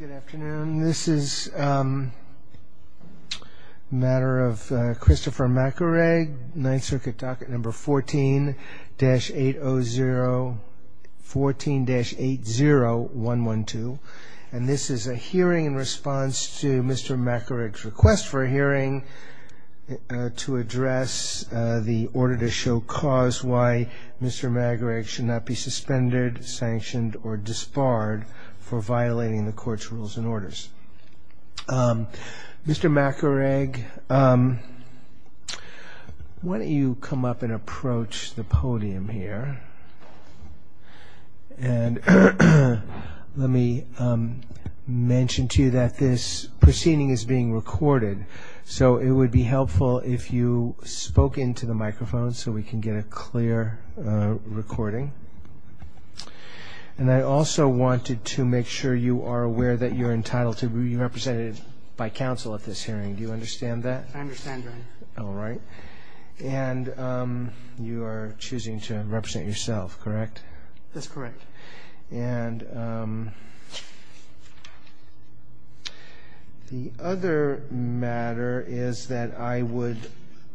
Good afternoon. This is a matter of Christopher Macaraeg, Ninth Circuit docket number 14, 14-80112 and this is a hearing in response to Mr. Macaraeg's request for a hearing to address the order to show cause why Mr. Macaraeg should not be suspended, sanctioned or disbarred for violating the court's rules and orders. Mr. Macaraeg, why don't you come up and approach the podium here and let me mention to you that this proceeding is being recorded, so it would be helpful if you spoke into the microphone so we can get a clear recording. And I also wanted to make sure you are aware that you are entitled to be represented by counsel at this hearing. Do you understand that? I understand, Your Honor. All right. And you are choosing to represent yourself, correct? That's correct. And the other matter is that I would,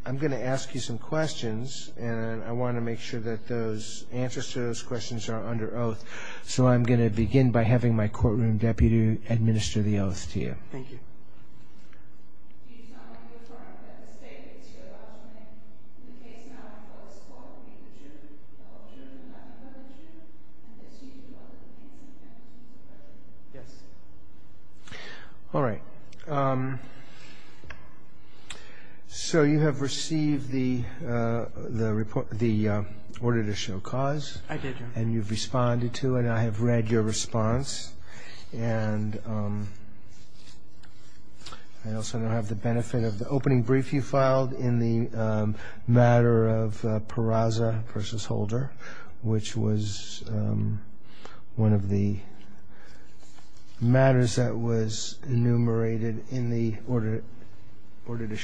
I'm going to ask you some questions and I want to make sure that those answers to those questions are under oath. So I'm going to begin by having my courtroom deputy administer the oath to you. Thank you. All right. So you have received the order to show cause and you've responded to it and I have read your response. And I also have the benefit of the opening brief you filed in the matter of Peraza v. Holder, which was one of the matters that was Your Honor, I'll just,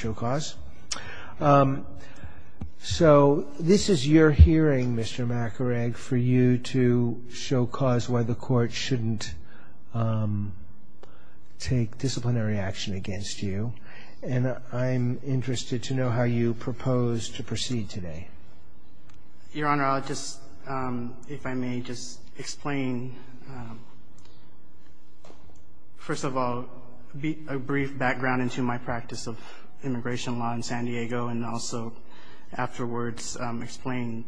if I may, just explain, first of all, a brief background into my practice of immigration law in San Diego, and also afterwards explain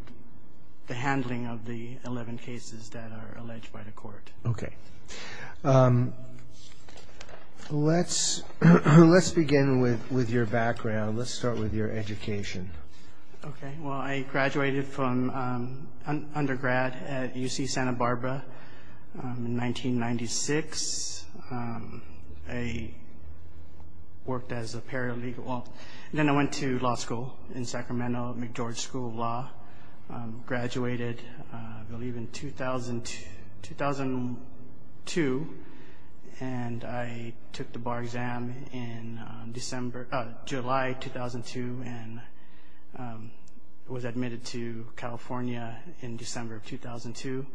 the handling of the 11 cases that are alleged by the court. Okay. Let's begin with your background. Let's start with your education. Okay. Well, I graduated from undergrad at UC Santa Barbara in 1996. I worked as a paralegal, then I went to law school in Sacramento, McGeorge School of Law. Graduated, I believe, in 2002 and I took the bar exam in July 2002 and was admitted to California in December of 2002.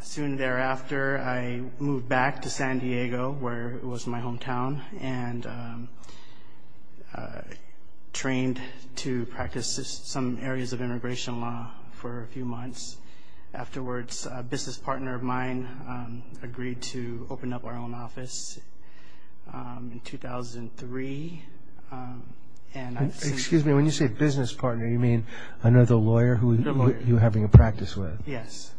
Soon thereafter, I moved back to San Diego, where it was my hometown, and trained to practice some areas of immigration law for a few months. Afterwards, a business partner of mine agreed to open up our own office in 2003. Excuse me, when you say business partner, you mean another lawyer who you're having a practice with? Yes.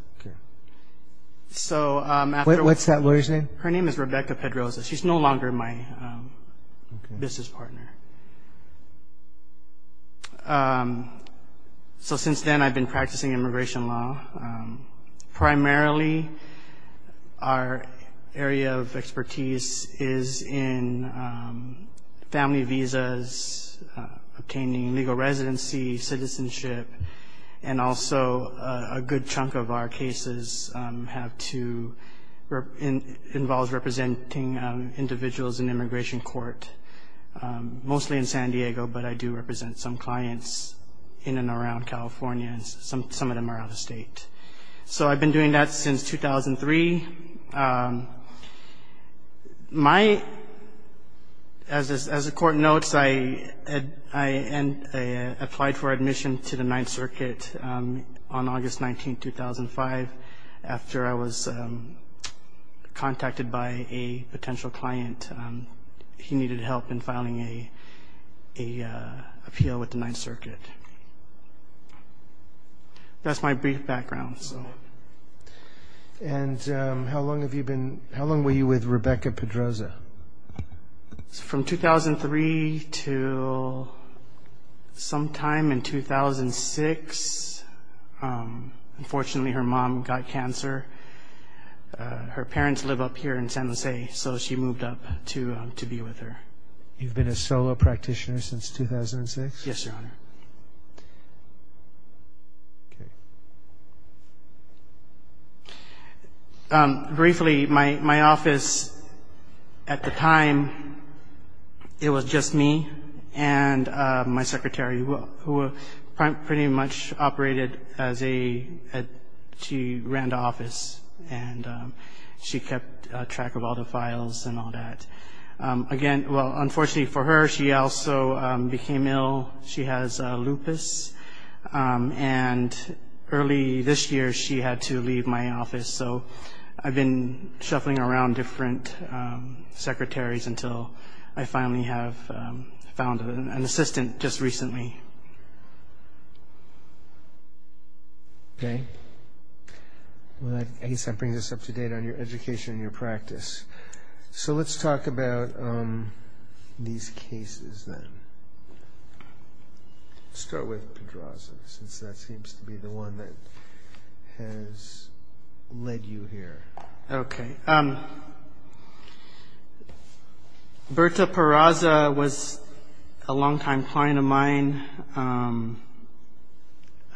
What's that lawyer's name? Her name is Rebecca Pedroza. She's no longer my business partner. Since then, I've been practicing immigration law. Primarily, our area of expertise is in family visas, obtaining legal residency, citizenship, and also a good chunk of our cases have to, involves representing individuals in immigration court. Mostly in San Diego, but I do represent some clients in and around California, and some of them are out of state. So I've been doing that since 2003. As the court notes, I applied for admission to the Ninth Circuit on August 19, 2005, after I was contacted by a potential client. He needed help in filing an appeal with the Ninth Circuit. That's my brief background. How long were you with Rebecca Pedroza? From 2003 to sometime in 2006. Unfortunately, her mom got cancer. Her parents live up here in San Jose, so she moved up to be with her. You've been a solo practitioner since 2006? Yes, Your Honor. Briefly, my office at the time, it was just me and my secretary, who pretty much operated as a, she ran the office, and she kept track of all the files and all that. Unfortunately for her, she also became ill. She has lupus, and early this year, she had to leave my office, so I've been shuffling around different secretaries until I finally have found an assistant just recently. Okay. I guess that brings us up to date on your education and your practice. So let's talk about these cases then. Let's start with Pedroza, since that seems to be the one that has led you here. Okay. Berta Pedroza was a longtime client of mine. I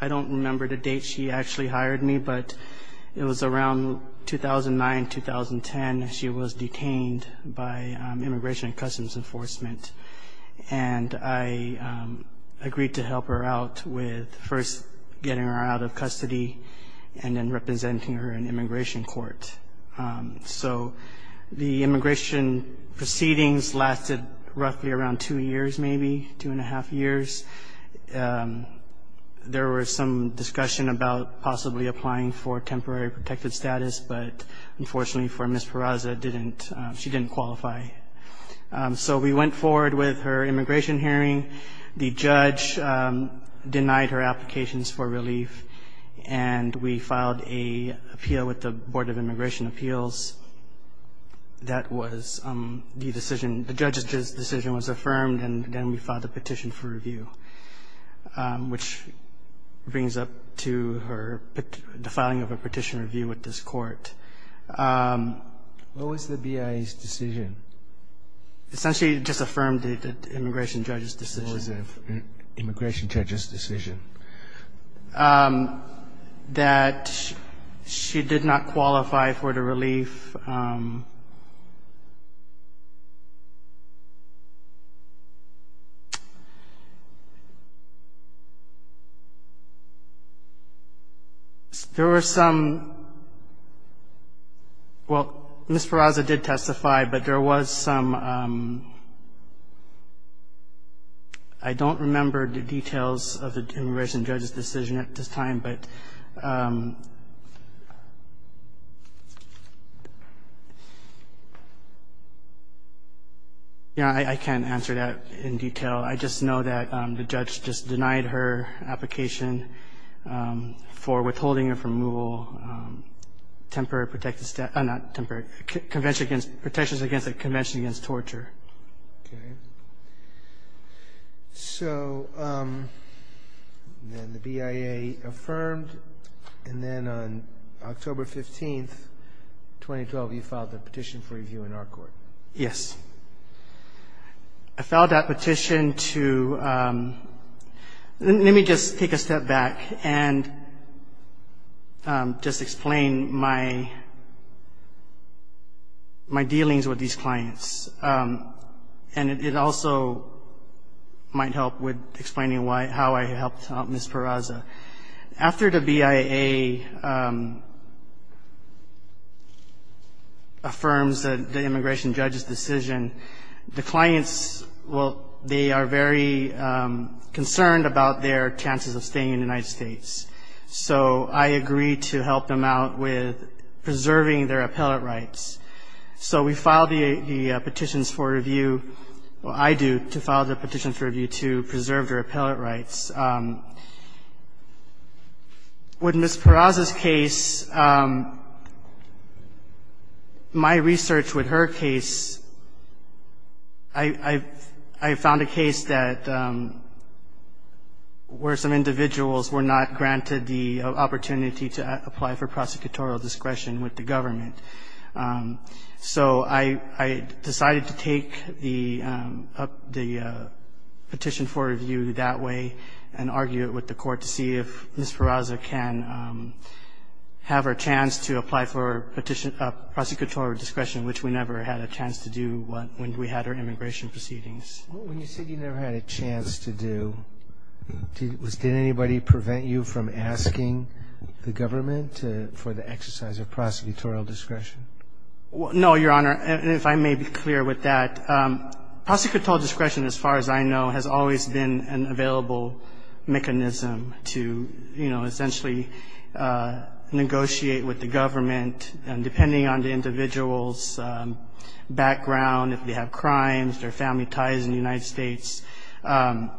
don't remember the date she actually hired me, but it was around 2009, 2010. She was detained by Immigration and Customs Enforcement, and I agreed to help her out with first getting her out of custody and then representing her in immigration court. So the immigration proceedings lasted roughly around two years, maybe, two and a half years. There was some discussion about possibly applying for temporary protected status, but unfortunately for Ms. Pedroza, she didn't qualify. So we went forward with her immigration hearing. The judge denied her applications for relief, and we filed an appeal with the Board of Immigration Appeals. The judge's decision was affirmed, and then we filed a petition for review, which brings up to the filing of a petition review with this court. What was the BIA's decision? Essentially, it just affirmed the immigration judge's decision. What was the immigration judge's decision? that she did not qualify for the relief. There were some – well, Ms. Pedroza did testify, but there was some – I don't remember the details of the immigration judge's decision at this time, but the judge's decision was affirmed. Yeah, I can't answer that in detail. I just know that the judge just denied her application for withholding of removal temporary protected – not temporary – protections against a convention against torture. Okay. So then the BIA affirmed, and then on October 15, 2012, you filed a petition for review in our court. Yes. I filed that petition to – let me just take a step back and just explain my dealings with these clients, and it also might help with explaining how I helped Ms. Pedroza. After the BIA affirms the immigration judge's decision, the clients – well, they are very concerned about their chances of staying in the United States, so I agreed to help them out with preserving their appellate rights. So we filed the petitions for review – well, I do – to file the petitions for review to preserve their appellate rights. With Ms. Pedroza's case, my research with her case, I found a case that – where some individuals were not granted the opportunity to apply for prosecutorial discretion with the government. So I decided to take the petition for review that way and argue it with the court to see if Ms. Pedroza can have her chance to apply for prosecution of discretion, which we never had a chance to do when we had our immigration proceedings. When you said you never had a chance to do, did anybody prevent you from asking the government for the exercise of prosecutorial discretion? No, Your Honor, and if I may be clear with that, prosecutorial discretion, as far as I know, has always been an available mechanism to, you know, essentially negotiate with the government, and depending on the individual's background, if they have crimes, their family ties in the United States, my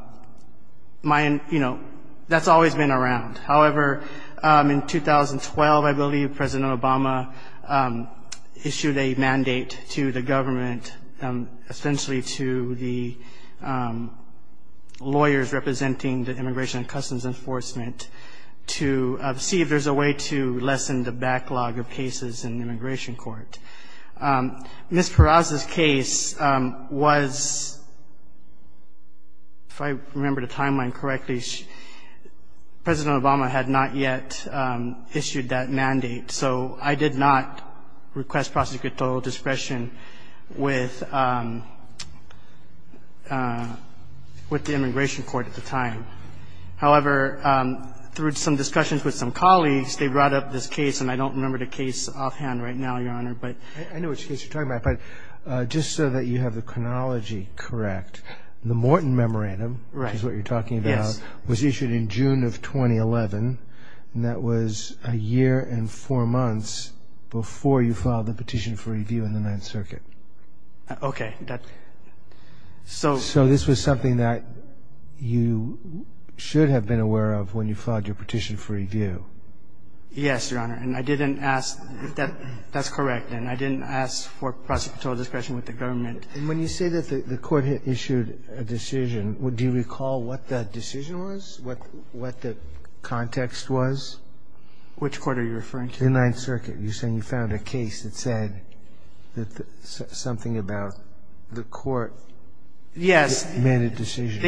– you know, that's always been around. However, in 2012, I believe, President Obama issued a mandate to the government, essentially to the lawyers representing the Immigration and Customs Enforcement, to see if there's a way to lessen the backlog of cases in the immigration court. Ms. Pedroza's case was – if I remember the timeline correctly, President Obama had not yet issued that mandate, so I did not request prosecutorial discretion with the immigration court at the time. However, through some discussions with some colleagues, they brought up this case, and I don't remember the case offhand right now, Your Honor, but – I know which case you're talking about, but just so that you have the chronology correct, the Morton Memorandum, which is what you're talking about, was issued in June of 2011, and that was a year and four months before you filed the petition for review in the Ninth Circuit. Okay, that – so – Yes, Your Honor, and I didn't ask – that's correct, and I didn't ask for prosecutorial discretion with the government. And when you say that the court issued a decision, do you recall what the decision was, what the context was? Which court are you referring to? The Ninth Circuit. You're saying you found a case that said something about the court made a decision.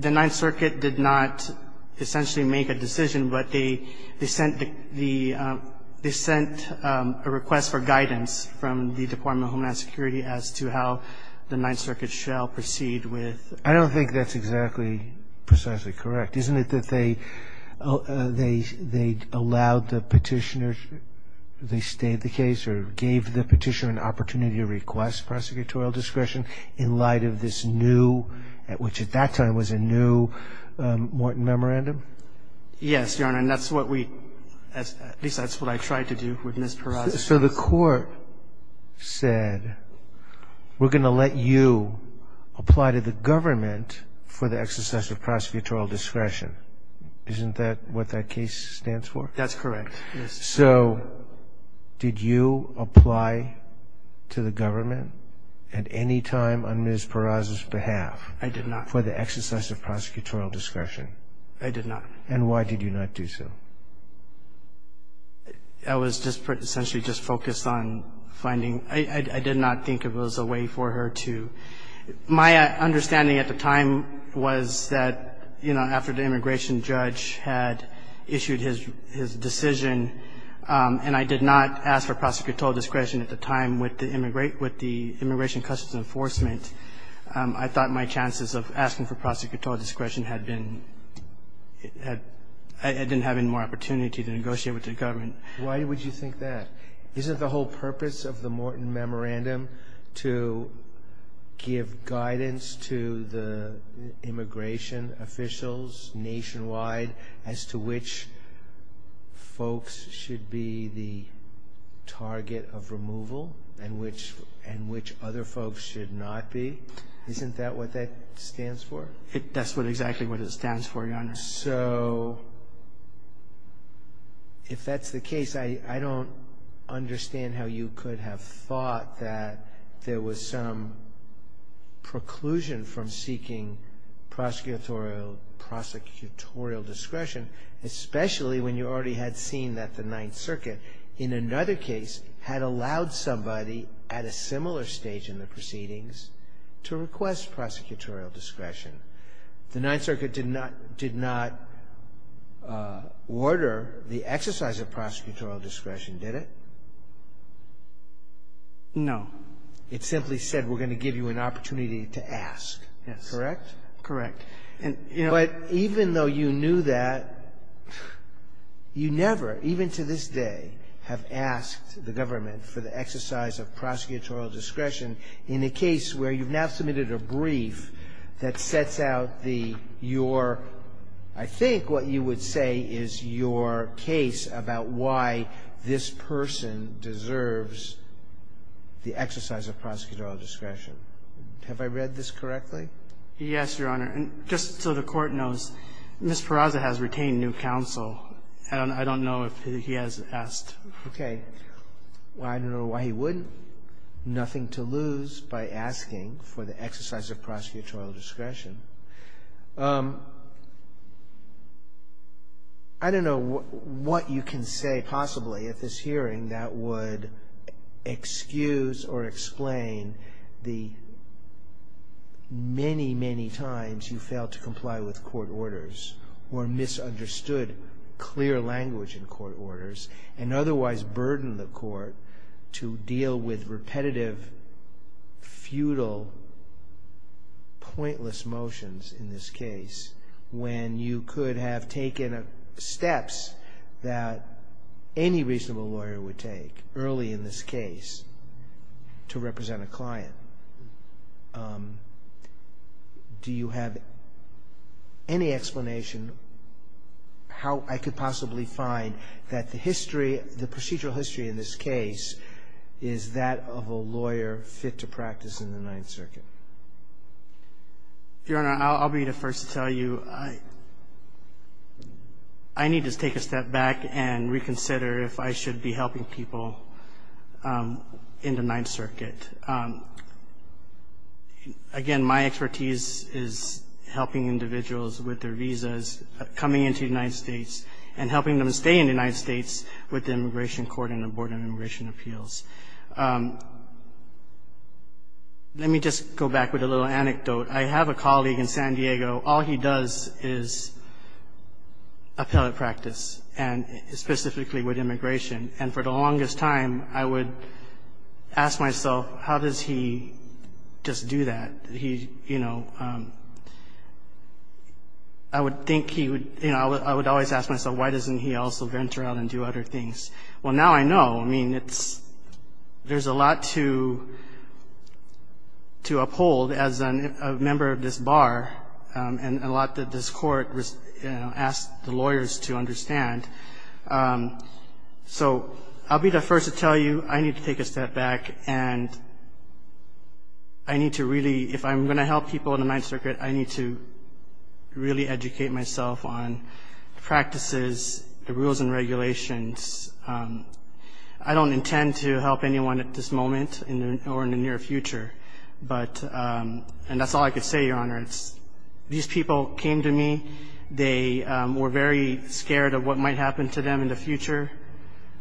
The Ninth Circuit did not essentially make a decision, but they sent the – they sent a request for guidance from the Department of Homeland Security as to how the Ninth Circuit shall proceed with – At which at that time was a new Morton Memorandum? Yes, Your Honor, and that's what we – at least that's what I tried to do with Ms. Peraza. So the court said, we're going to let you apply to the government for the exercise of prosecutorial discretion. Isn't that what that case stands for? That's correct, yes. So did you apply to the government at any time on Ms. Peraza's behalf? I did not. For the exercise of prosecutorial discretion? I did not. And why did you not do so? I was just essentially just focused on finding – I did not think it was a way for her to – My understanding at the time was that, you know, after the immigration judge had issued his decision, and I did not ask for prosecutorial discretion at the time with the Immigration Customs Enforcement, I thought my chances of asking for prosecutorial discretion had been – I didn't have any more opportunity to negotiate with the government. Why would you think that? Isn't the whole purpose of the Morton Memorandum to give guidance to the immigration officials nationwide as to which folks should be the target of removal and which other folks should not be? Isn't that what that stands for? That's exactly what it stands for, Your Honor. So if that's the case, I don't understand how you could have thought that there was some preclusion from seeking prosecutorial discretion, especially when you already had seen that the Ninth Circuit, in another case, had allowed somebody at a similar stage in the proceedings to request prosecutorial discretion. The Ninth Circuit did not order the exercise of prosecutorial discretion, did it? No. It simply said, we're going to give you an opportunity to ask, correct? Correct. But even though you knew that, you never, even to this day, have asked the government for the exercise of prosecutorial discretion in a case where you've now submitted a brief that sets out the – your – I think what you would say is your case about why this person deserves the exercise of prosecutorial discretion. Have I read this correctly? Yes, Your Honor. And just so the Court knows, Ms. Peraza has retained new counsel. I don't know if he has asked. Okay. Well, I don't know why he wouldn't. Nothing to lose by asking for the exercise of prosecutorial discretion. I don't know what you can say, possibly, at this hearing that would excuse or explain the many, many times you failed to comply with court orders or misunderstood clear language in court orders and otherwise burdened the court to deal with repetitive, futile, pointless motions. In this case, when you could have taken steps that any reasonable lawyer would take early in this case to represent a client, do you have any explanation how I could possibly find that the history, the procedural history in this case, is that of a lawyer fit to practice in the Ninth Circuit? Your Honor, I'll be the first to tell you I need to take a step back and reconsider if I should be helping people in the Ninth Circuit. Again, my expertise is helping individuals with their visas coming into the United States and helping them stay in the United States with the Immigration Court and the Board of Immigration Appeals. Let me just go back with a little anecdote. I have a colleague in San Diego. All he does is appellate practice and specifically with immigration. And for the longest time, I would ask myself, how does he just do that? He, you know, I would think he would, you know, I would always ask myself, why doesn't he also venture out and do other things? Well, now I know. I mean, there's a lot to uphold as a member of this bar and a lot that this court asked the lawyers to understand. So I'll be the first to tell you I need to take a step back and I need to really, if I'm going to help people in the Ninth Circuit, I need to really educate myself on practices, the rules and regulations. I don't intend to help anyone at this moment or in the near future. But and that's all I could say, Your Honor. These people came to me. They were very scared of what might happen to them in the future.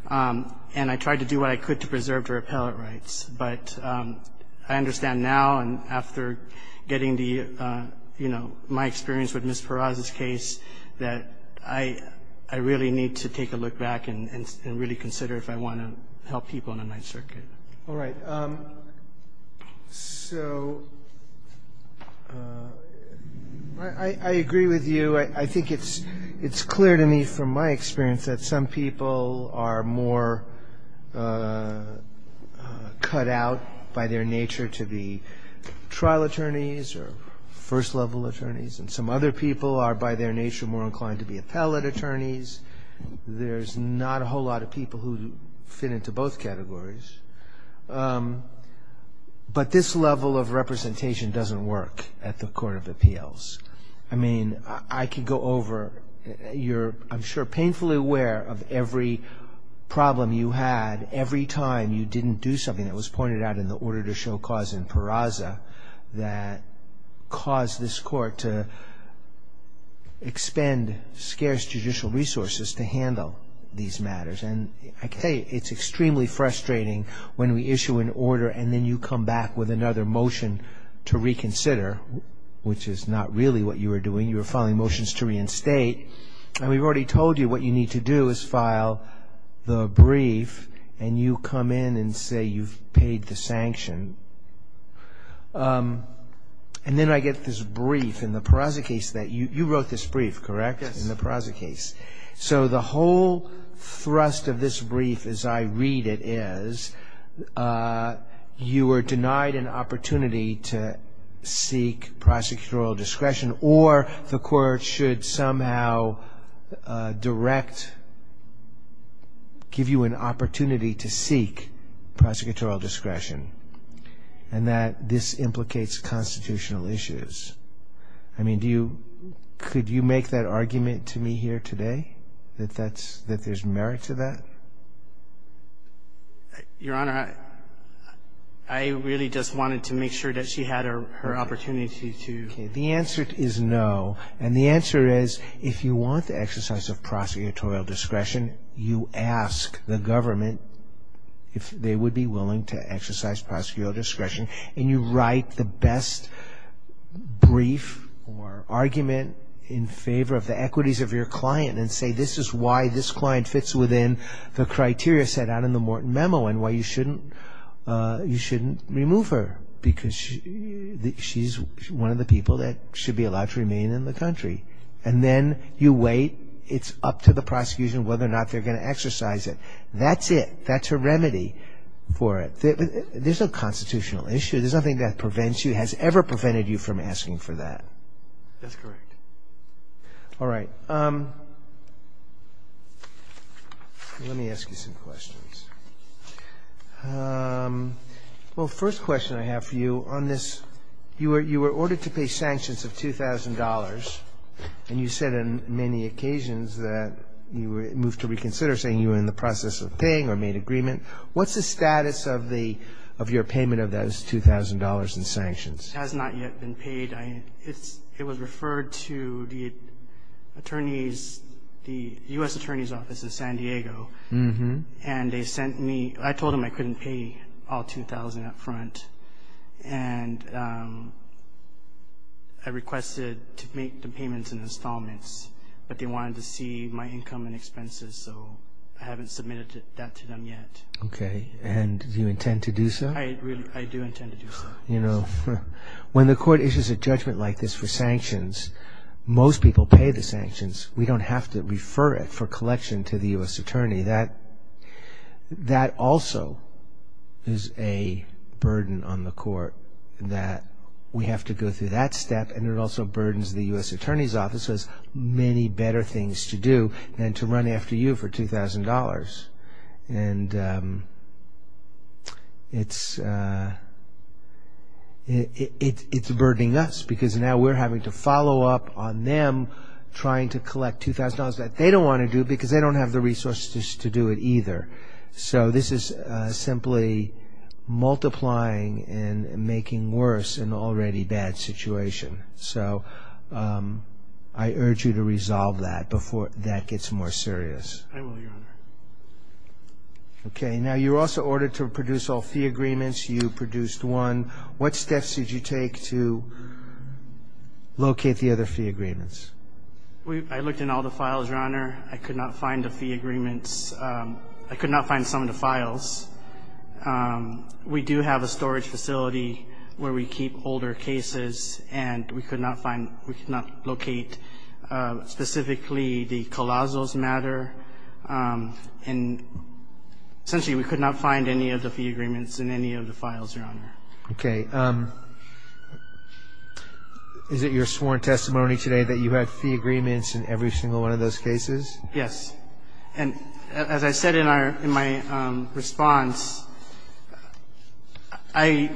And I tried to do what I could to preserve their appellate rights. But I understand now and after getting the, you know, my experience with Ms. Peraza's case that I really need to take a look back and really consider if I want to help people in the Ninth Circuit. All right. So I agree with you. I think it's clear to me from my experience that some people are more cut out by their nature to be trial attorneys or first-level attorneys. And some other people are, by their nature, more inclined to be appellate attorneys. There's not a whole lot of people who fit into both categories. But this level of representation doesn't work at the Court of Appeals. I mean, I could go over. You're, I'm sure, painfully aware of every problem you had every time you didn't do something that was pointed out in the order to show cause in Peraza that caused this court to expend scarce judicial resources to handle these matters. And I tell you, it's extremely frustrating when we issue an order and then you come back with another motion to reconsider, which is not really what you were doing. You were filing motions to reinstate. And we've already told you what you need to do is file the brief and you come in and say you've paid the sanction. And then I get this brief in the Peraza case that you wrote this brief, correct? Yes. In the Peraza case. So the whole thrust of this brief as I read it is you were denied an opportunity to seek prosecutorial discretion or the court should somehow direct, give you an opportunity to seek prosecutorial discretion and that this implicates constitutional issues. I mean, do you, could you make that argument to me here today? That that's, that there's merit to that? Your Honor, I really just wanted to make sure that she had her opportunity to. The answer is no. And the answer is if you want the exercise of prosecutorial discretion, you ask the government if they would be willing to exercise prosecutorial discretion and you write the best brief or argument in favor of the equities of your client and say this is why this client fits within the criteria set out in the Morton Memo and why you shouldn't, you shouldn't remove her because she's one of the people that should be allowed to remain in the country. And then you wait. It's up to the prosecution whether or not they're going to exercise it. That's it. That's a remedy for it. There's no constitutional issue. There's nothing that prevents you, has ever prevented you from asking for that. That's correct. All right. Let me ask you some questions. Well, first question I have for you on this, you were ordered to pay sanctions of $2,000 and you said on many occasions that you moved to reconsider, saying you were in the process of paying or made agreement. What's the status of your payment of those $2,000 in sanctions? It has not yet been paid. It was referred to the U.S. Attorney's Office in San Diego, and they sent me, I told them I couldn't pay all $2,000 up front, and I requested to make the payments in installments, but they wanted to see my income and expenses, so I haven't submitted that to them yet. Okay. And do you intend to do so? I do intend to do so. You know, when the court issues a judgment like this for sanctions, most people pay the sanctions. We don't have to refer it for collection to the U.S. Attorney. That also is a burden on the court that we have to go through that step, and it also burdens the U.S. Attorney's Office has many better things to do than to run after you for $2,000. And it's burdening us because now we're having to follow up on them trying to collect $2,000 that they don't want to do because they don't have the resources to do it either. So this is simply multiplying and making worse an already bad situation. So I urge you to resolve that before that gets more serious. I will, Your Honor. Okay. Now, you were also ordered to produce all fee agreements. You produced one. What steps did you take to locate the other fee agreements? I looked in all the files, Your Honor. I could not find the fee agreements. I could not find some of the files. We do have a storage facility where we keep older cases, and we could not locate specifically the Colasos matter. And essentially we could not find any of the fee agreements in any of the files, Your Honor. Okay. Is it your sworn testimony today that you had fee agreements in every single one of those cases? Yes. And as I said in my response,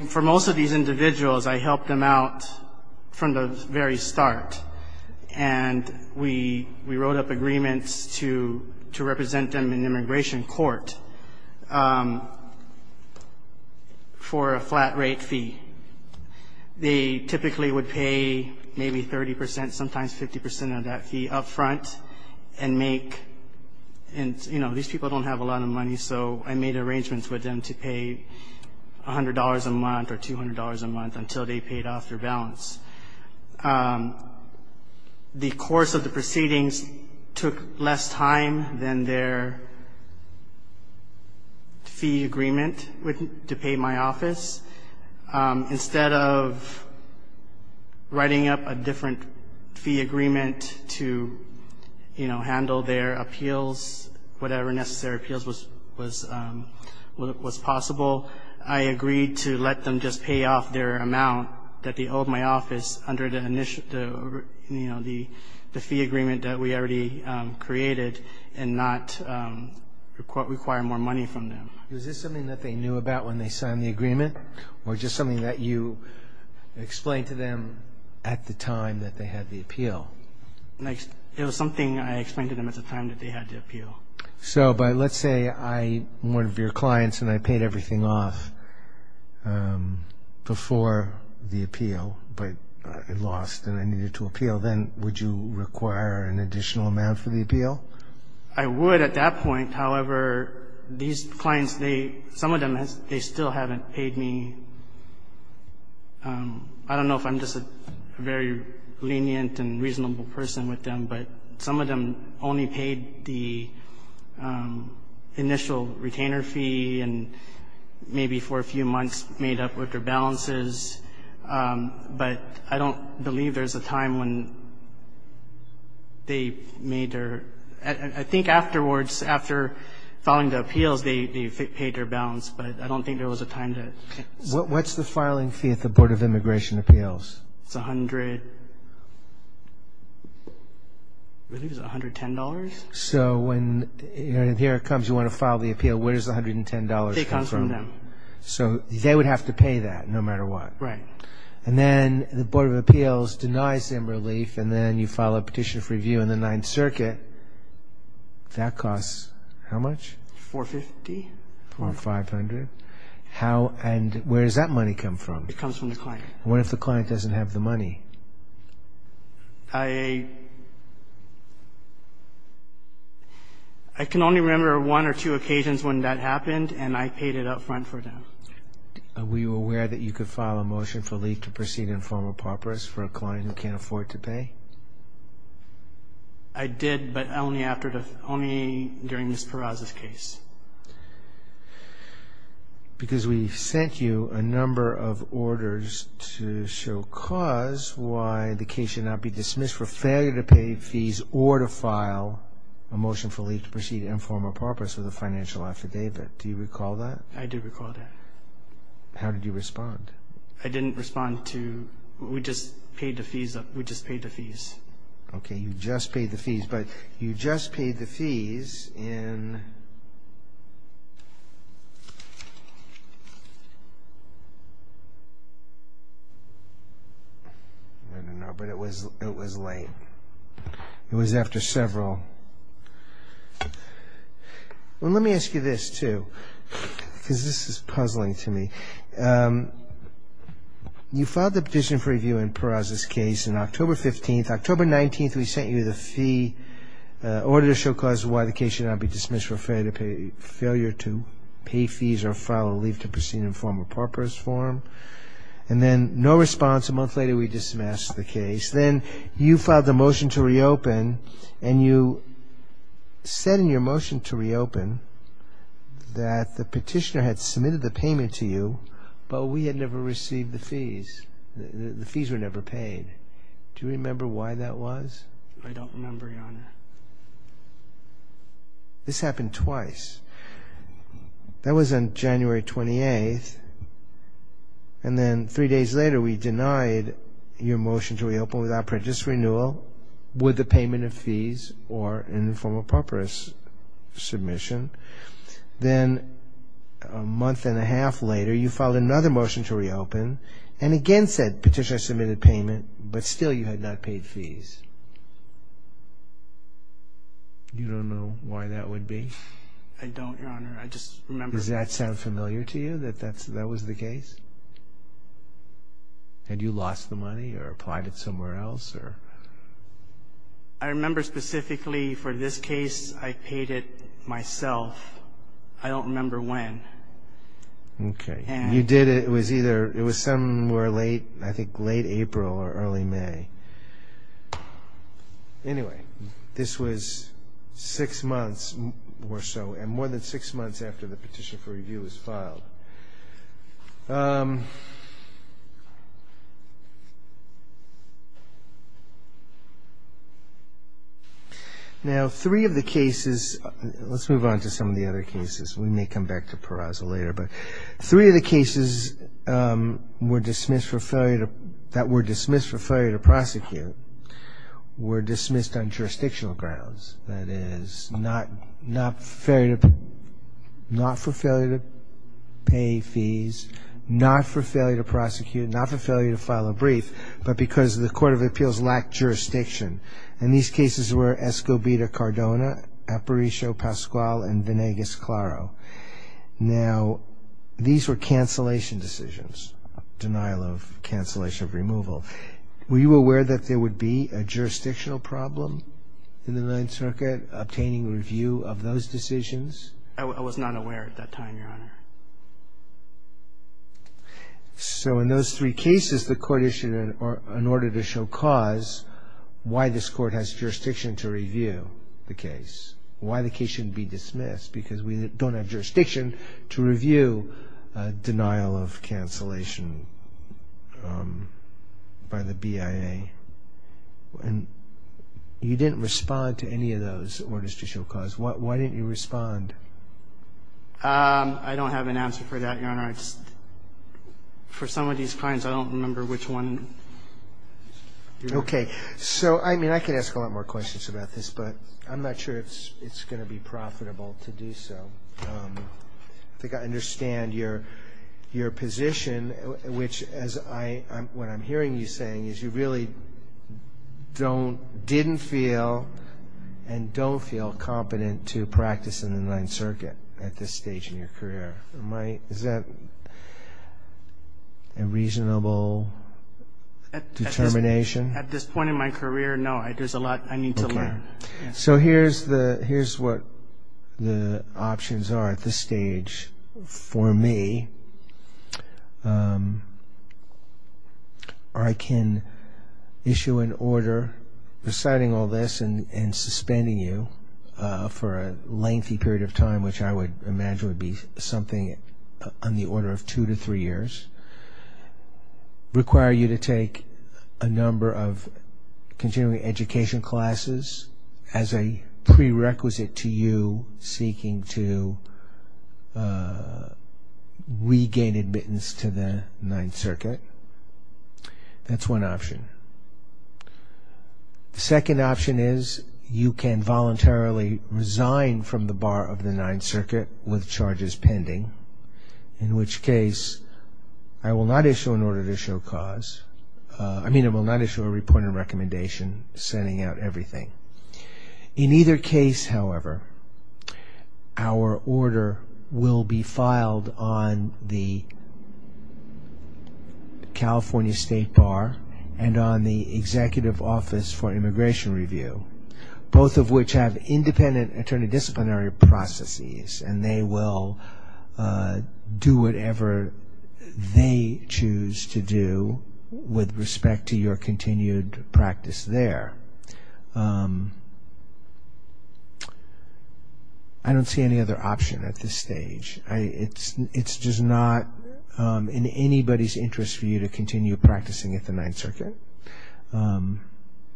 for most of these individuals, I helped them out from the very start. And we wrote up agreements to represent them in immigration court for a flat rate fee. They typically would pay maybe 30 percent, sometimes 50 percent of that fee up front and make – and, you know, these people don't have a lot of money, so I made arrangements with them to pay $100 a month or $200 a month until they paid off their balance. The course of the proceedings took less time than their fee agreement to pay my office. Instead of writing up a different fee agreement to, you know, handle their appeals, whatever necessary appeals was possible, I agreed to let them just pay off their amount that they owed my office under the, you know, the fee agreement that we already created and not require more money from them. Was this something that they knew about when they signed the agreement or just something that you explained to them at the time that they had the appeal? It was something I explained to them at the time that they had the appeal. So, but let's say I'm one of your clients and I paid everything off before the appeal, but I lost and I needed to appeal, then would you require an additional amount for the appeal? I would at that point. However, these clients, some of them, they still haven't paid me. I don't know if I'm just a very lenient and reasonable person with them, but some of them only paid the initial retainer fee and maybe for a few months made up with their balances. But I don't believe there's a time when they made their – I think afterwards, after filing the appeals, they paid their balance, but I don't think there was a time to – What's the filing fee at the Board of Immigration Appeals? It's $110. So when – here it comes, you want to file the appeal. Where does the $110 come from? It comes from them. So they would have to pay that no matter what. Right. And then the Board of Appeals denies them relief and then you file a petition for review in the Ninth Circuit. That costs how much? $450. Or $500. How – and where does that money come from? It comes from the client. What if the client doesn't have the money? I – I can only remember one or two occasions when that happened and I paid it up front for them. Were you aware that you could file a motion for relief to proceed in the form of paupers for a client who can't afford to pay? I did, but only after the – only during Ms. Peraza's case. Because we sent you a number of orders to show cause why the case should not be dismissed for failure to pay fees or to file a motion for relief to proceed in the form of paupers with a financial affidavit. Do you recall that? I do recall that. How did you respond? I didn't respond to – we just paid the fees up – we just paid the fees. Okay, you just paid the fees, but you just paid the fees in – I don't know, but it was – it was late. It was after several – Well, let me ask you this, too, because this is puzzling to me. You filed the petition for review in Peraza's case on October 15th. October 19th, we sent you the fee order to show cause why the case should not be dismissed for failure to pay fees or file a relief to proceed in the form of paupers form. And then no response. A month later, we dismissed the case. Then you filed the motion to reopen and you said in your motion to reopen that the petitioner had submitted the payment to you, but we had never received the fees. The fees were never paid. Do you remember why that was? I don't remember, Your Honor. This happened twice. That was on January 28th, and then three days later we denied your motion to reopen without prejudice renewal with the payment of fees or in the form of paupers submission. Then a month and a half later, you filed another motion to reopen and again said petitioner submitted payment, but still you had not paid fees. You don't know why that would be? I don't, Your Honor. I just remember – Does that sound familiar to you, that that was the case? Had you lost the money or applied it somewhere else? I remember specifically for this case I paid it myself. I don't remember when. Okay. You did it, it was either, it was somewhere late, I think late April or early May. Anyway, this was six months or so and more than six months after the petition for review was filed. Now, three of the cases – let's move on to some of the other cases. We may come back to parousal later, but three of the cases that were dismissed for failure to prosecute were dismissed on jurisdictional grounds, that is, not for failure to pay fees, not for failure to prosecute, not for failure to file a brief, but because the Court of Appeals lacked jurisdiction. And these cases were Escobita-Cardona, Aparicio-Pascual, and Venegas-Claro. Now, these were cancellation decisions, denial of cancellation of removal. Were you aware that there would be a jurisdictional problem in the Ninth Circuit obtaining review of those decisions? I was not aware at that time, Your Honor. So in those three cases the Court issued an order to show cause why this Court has jurisdiction to review the case, why the case shouldn't be dismissed, because we don't have jurisdiction to review denial of cancellation by the BIA. And you didn't respond to any of those orders to show cause. Why didn't you respond? I don't have an answer for that, Your Honor. For some of these crimes, I don't remember which one. Okay. So, I mean, I could ask a lot more questions about this, but I'm not sure it's going to be profitable to do so. I think I understand your position, which, what I'm hearing you saying, is you really didn't feel and don't feel competent to practice in the Ninth Circuit at this stage in your career. Is that a reasonable determination? At this point in my career, no. There's a lot I need to learn. So here's what the options are at this stage for me. I can issue an order deciding all this and suspending you for a lengthy period of time, which I would imagine would be something on the order of two to three years, require you to take a number of continuing education classes as a prerequisite to you seeking to regain admittance to the Ninth Circuit. That's one option. The second option is you can voluntarily resign from the bar of the Ninth Circuit with charges pending, in which case I will not issue an order to show cause. I mean I will not issue a report and recommendation sending out everything. In either case, however, our order will be filed on the California State Bar and on the Executive Office for Immigration Review, both of which have independent attorney disciplinary processes and they will do whatever they choose to do with respect to your continued practice there. I don't see any other option at this stage. It's just not in anybody's interest for you to continue practicing at the Ninth Circuit.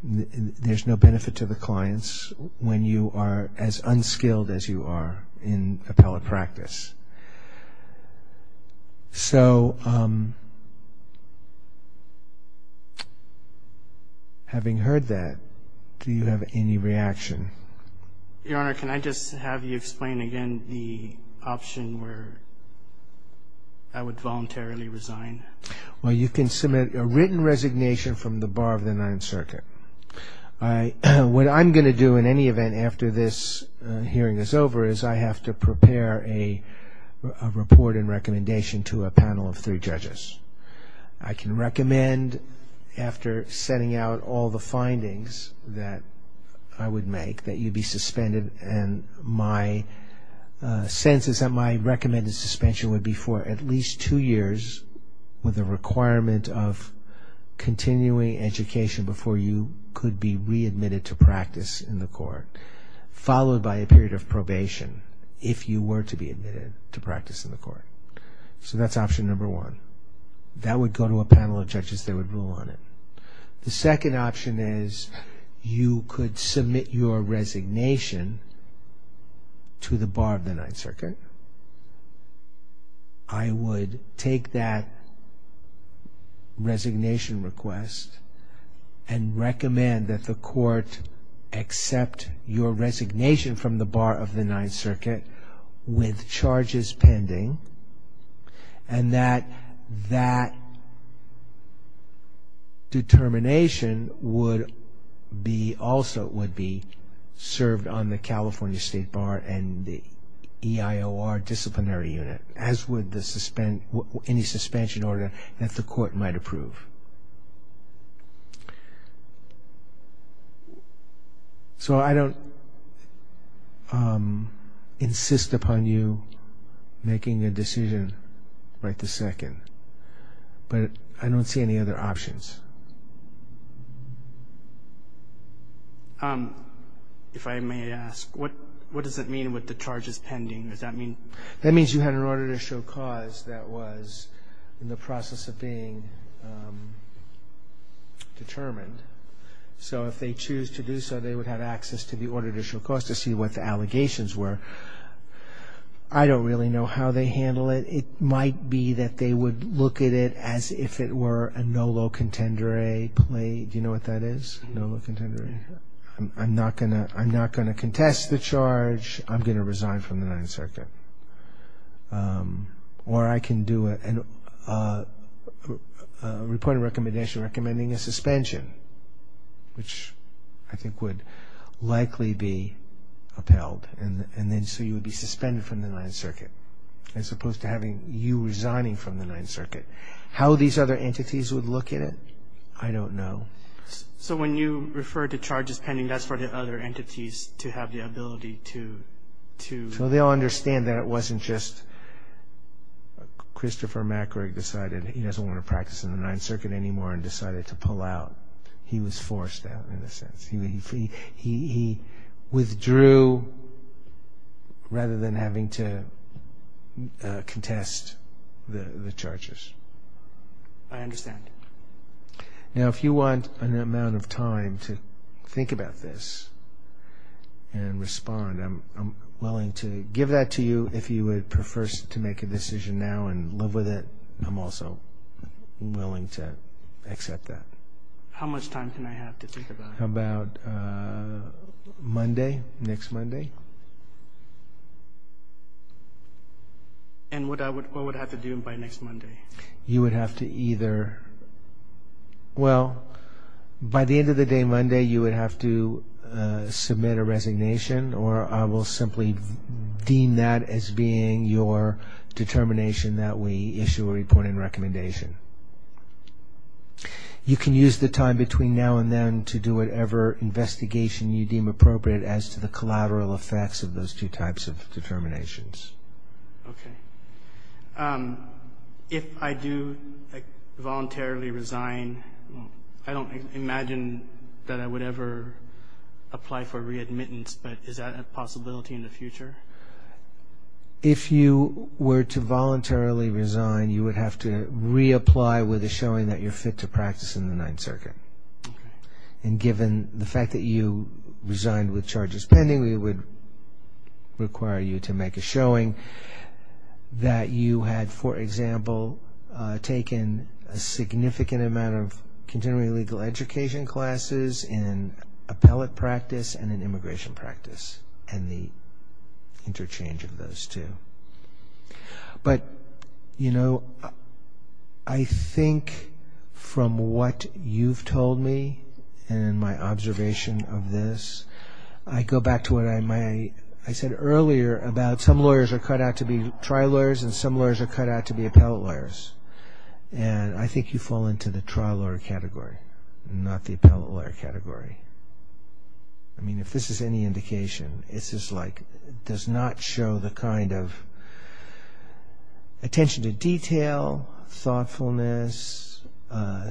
There's no benefit to the clients when you are as unskilled as you are in appellate practice. So having heard that, do you have any reaction? Your Honor, can I just have you explain again the option where I would voluntarily resign? Well, you can submit a written resignation from the bar of the Ninth Circuit. What I'm going to do in any event after this hearing is over is I have to prepare a report and recommendation to a panel of three judges. I can recommend after setting out all the findings that I would make that you be suspended and my sense is that my recommended suspension would be for at least two years with a requirement of continuing education before you could be readmitted to practice in the court followed by a period of probation if you were to be admitted to practice in the court. So that's option number one. That would go to a panel of judges that would rule on it. The second option is you could submit your resignation to the bar of the Ninth Circuit. I would take that resignation request and recommend that the court accept your resignation from the bar of the Ninth Circuit with charges pending and that that determination also would be served on the California State Bar and the EIOR disciplinary unit as would any suspension order that the court might approve. So I don't insist upon you making a decision right this second, but I don't see any other options. If I may ask, what does it mean with the charges pending? That means you had an order to show cause that was in the process of being determined. So if they choose to do so, they would have access to the order to show cause to see what the allegations were. I don't really know how they handle it. It might be that they would look at it as if it were a nolo contendere. Do you know what that is, nolo contendere? I'm not going to contest the charge. I'm going to resign from the Ninth Circuit. Or I can do a reporting recommendation recommending a suspension, which I think would likely be upheld. And then so you would be suspended from the Ninth Circuit as opposed to having you resigning from the Ninth Circuit. How these other entities would look at it, I don't know. So when you refer to charges pending, that's for the other entities to have the ability to... So they'll understand that it wasn't just Christopher McGreg decided he doesn't want to practice in the Ninth Circuit anymore and decided to pull out. He was forced out in a sense. He withdrew rather than having to contest the charges. I understand. Now if you want an amount of time to think about this and respond, I'm willing to give that to you. If you would prefer to make a decision now and live with it, I'm also willing to accept that. How much time can I have to think about it? How about Monday, next Monday? And what would I have to do by next Monday? You would have to either... Well, by the end of the day Monday you would have to submit a resignation or I will simply deem that as being your determination that we issue a report and recommendation. You can use the time between now and then to do whatever investigation you deem appropriate as to the collateral effects of those two types of determinations. Okay. If I do voluntarily resign, I don't imagine that I would ever apply for readmittance, but is that a possibility in the future? If you were to voluntarily resign, you would have to reapply with a showing that you're fit to practice in the Ninth Circuit. And given the fact that you resigned with charges pending, we would require you to make a showing that you had, for example, taken a significant amount of continuing legal education classes in appellate practice and in immigration practice and the interchange of those two. But, you know, I think from what you've told me and my observation of this, I go back to what I said earlier about some lawyers are cut out to be trial lawyers and some lawyers are cut out to be appellate lawyers. And I think you fall into the trial lawyer category, not the appellate lawyer category. I mean, if this is any indication, it's just like it does not show the kind of attention to detail, thoughtfulness,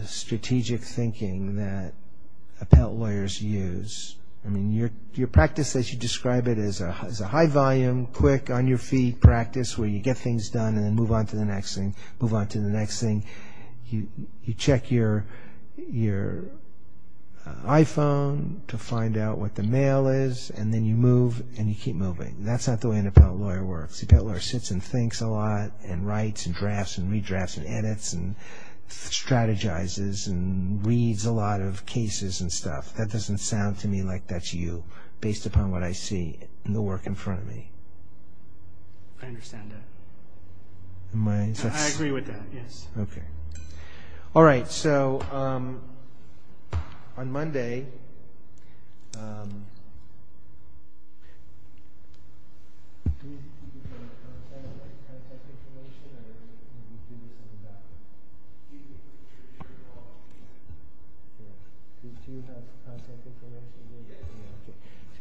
strategic thinking that appellate lawyers use. I mean, your practice as you describe it is a high volume, quick, on-your-feet practice where you get things done and then move on to the next thing, move on to the next thing. You check your iPhone to find out what the mail is, and then you move and you keep moving. That's not the way an appellate lawyer works. An appellate lawyer sits and thinks a lot and writes and drafts and redrafts and edits and strategizes and reads a lot of cases and stuff. That doesn't sound to me like that's you based upon what I see in the work in front of me. I understand that. I agree with that, yes. Okay. All right, so on Monday. So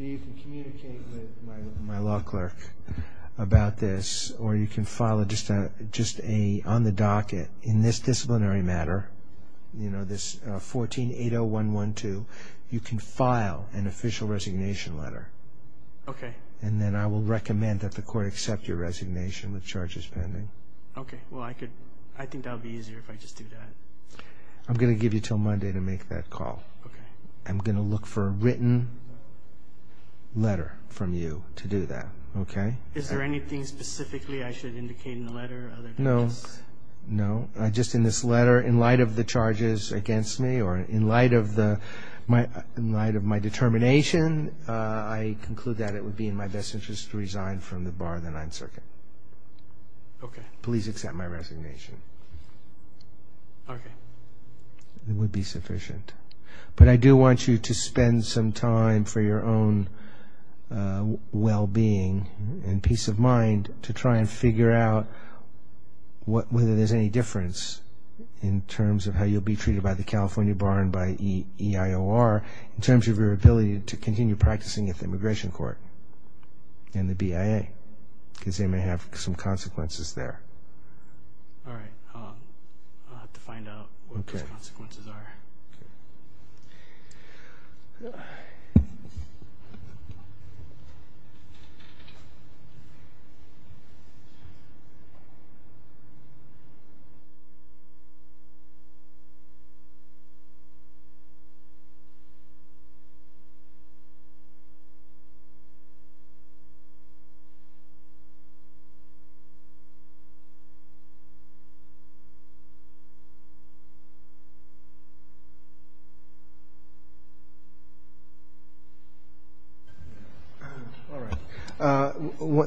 you can communicate with my law clerk about this, or you can file just on the docket in this disciplinary matter, this 14-80112, you can file an official resignation letter. Okay. And then I will recommend that the court accept your resignation with charges pending. Okay. Well, I think that would be easier if I just do that. I'm going to give you until Monday to make that call. Okay. I'm going to look for a written letter from you to do that, okay? Is there anything specifically I should indicate in the letter? No, no. Just in this letter, in light of the charges against me or in light of my determination, I conclude that it would be in my best interest to resign from the bar of the Ninth Circuit. Okay. Please accept my resignation. Okay. It would be sufficient. But I do want you to spend some time for your own well-being and peace of mind to try and figure out whether there's any difference in terms of how you'll be treated by the California Bar and by EIOR in terms of your ability to continue practicing at the Immigration Court and the BIA, because they may have some consequences there. All right. I'll have to find out what those consequences are. All right.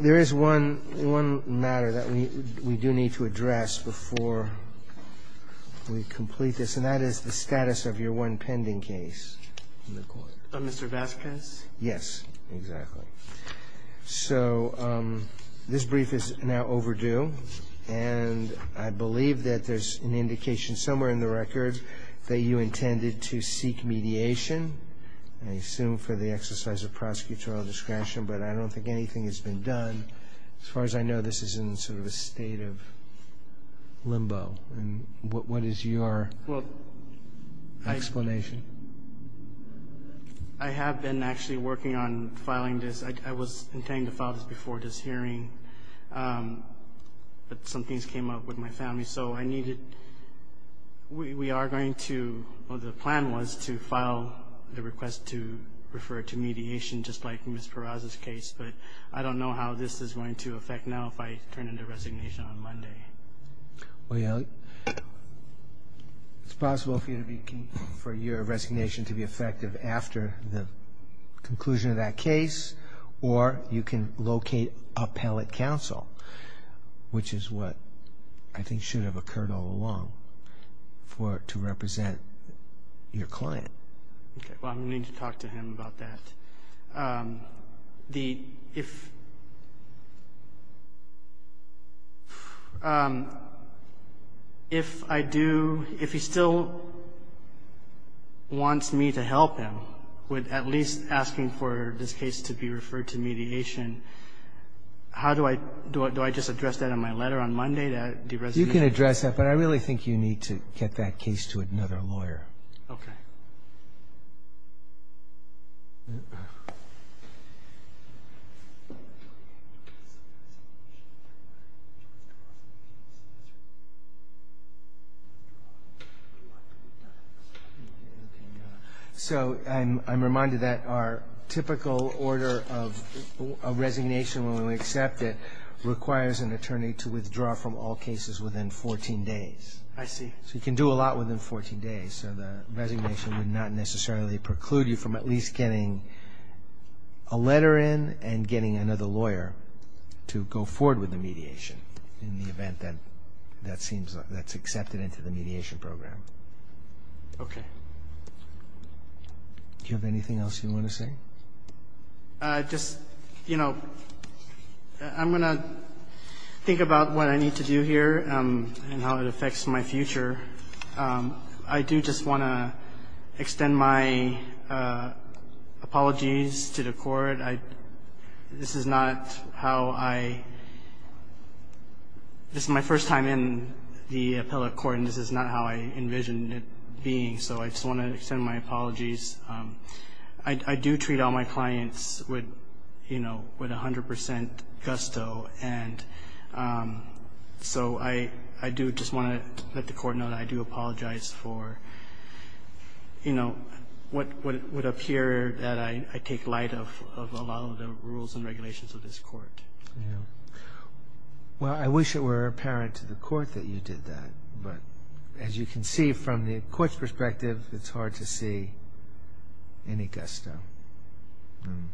There is one matter that we do need to address before we complete this, and that is the status of your one pending case in the court. Mr. Vasquez? Yes, exactly. So this brief is now overdue, and I believe that there's an indication somewhere in the record that you intended to seek mediation, I assume for the exercise of prosecutorial discretion, but I don't think anything has been done. As far as I know, this is in sort of a state of limbo. What is your explanation? I have been actually working on filing this. I was intending to file this before this hearing, but some things came up with my family, so I needed to. We are going to, well, the plan was to file the request to refer to mediation, just like Ms. Peraza's case, but I don't know how this is going to affect now if I turn in the resignation on Monday. Well, it's possible for your resignation to be effective after the conclusion of that case, or you can locate appellate counsel, which is what I think should have occurred all along, to represent your client. Okay, well, I'm going to need to talk to him about that. If I do, if he still wants me to help him with at least asking for this case to be referred to mediation, how do I, do I just address that in my letter on Monday, the resignation? You can address that, but I really think you need to get that case to another lawyer. Okay. So, I'm reminded that our typical order of resignation, when we accept it, requires an attorney to withdraw from all cases within 14 days. I see. So, you can do a lot within 14 days, so the resignation would not necessarily preclude you from at least getting a letter in and getting another lawyer to go forward with the mediation in the event that that's accepted into the mediation program. Okay. Do you have anything else you want to say? Just, you know, I'm going to think about what I need to do here and how it affects my future. I do just want to extend my apologies to the Court. This is not how I, this is my first time in the appellate court, and this is not how I envisioned it being, so I just want to extend my apologies. I do treat all my clients with, you know, 100% gusto, and so I do just want to let the Court know that I do apologize for, you know, what would appear that I take light of a lot of the rules and regulations of this Court. Yeah. Well, I wish it were apparent to the Court that you did that, but as you can see from the Court's perspective, it's hard to see any gusto. And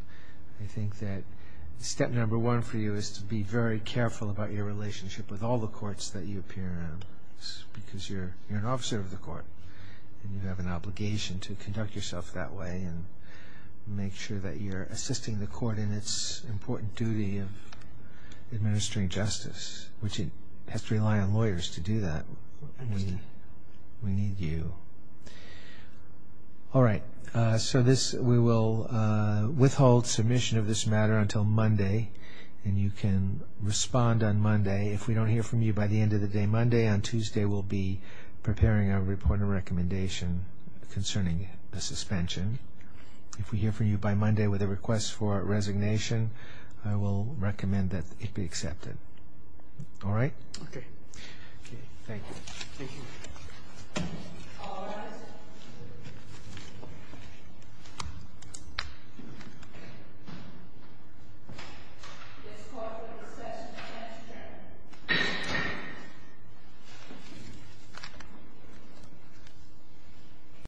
I think that step number one for you is to be very careful about your relationship with all the courts that you appear in because you're an officer of the Court, and you have an obligation to conduct yourself that way and make sure that you're assisting the Court in its important duty of administering justice, which it has to rely on lawyers to do that. I understand. We need you. All right. So this, we will withhold submission of this matter until Monday, and you can respond on Monday. If we don't hear from you by the end of the day Monday, on Tuesday we'll be preparing our report and recommendation concerning the suspension. If we hear from you by Monday with a request for resignation, I will recommend that it be accepted. All right? Thank you. Thank you.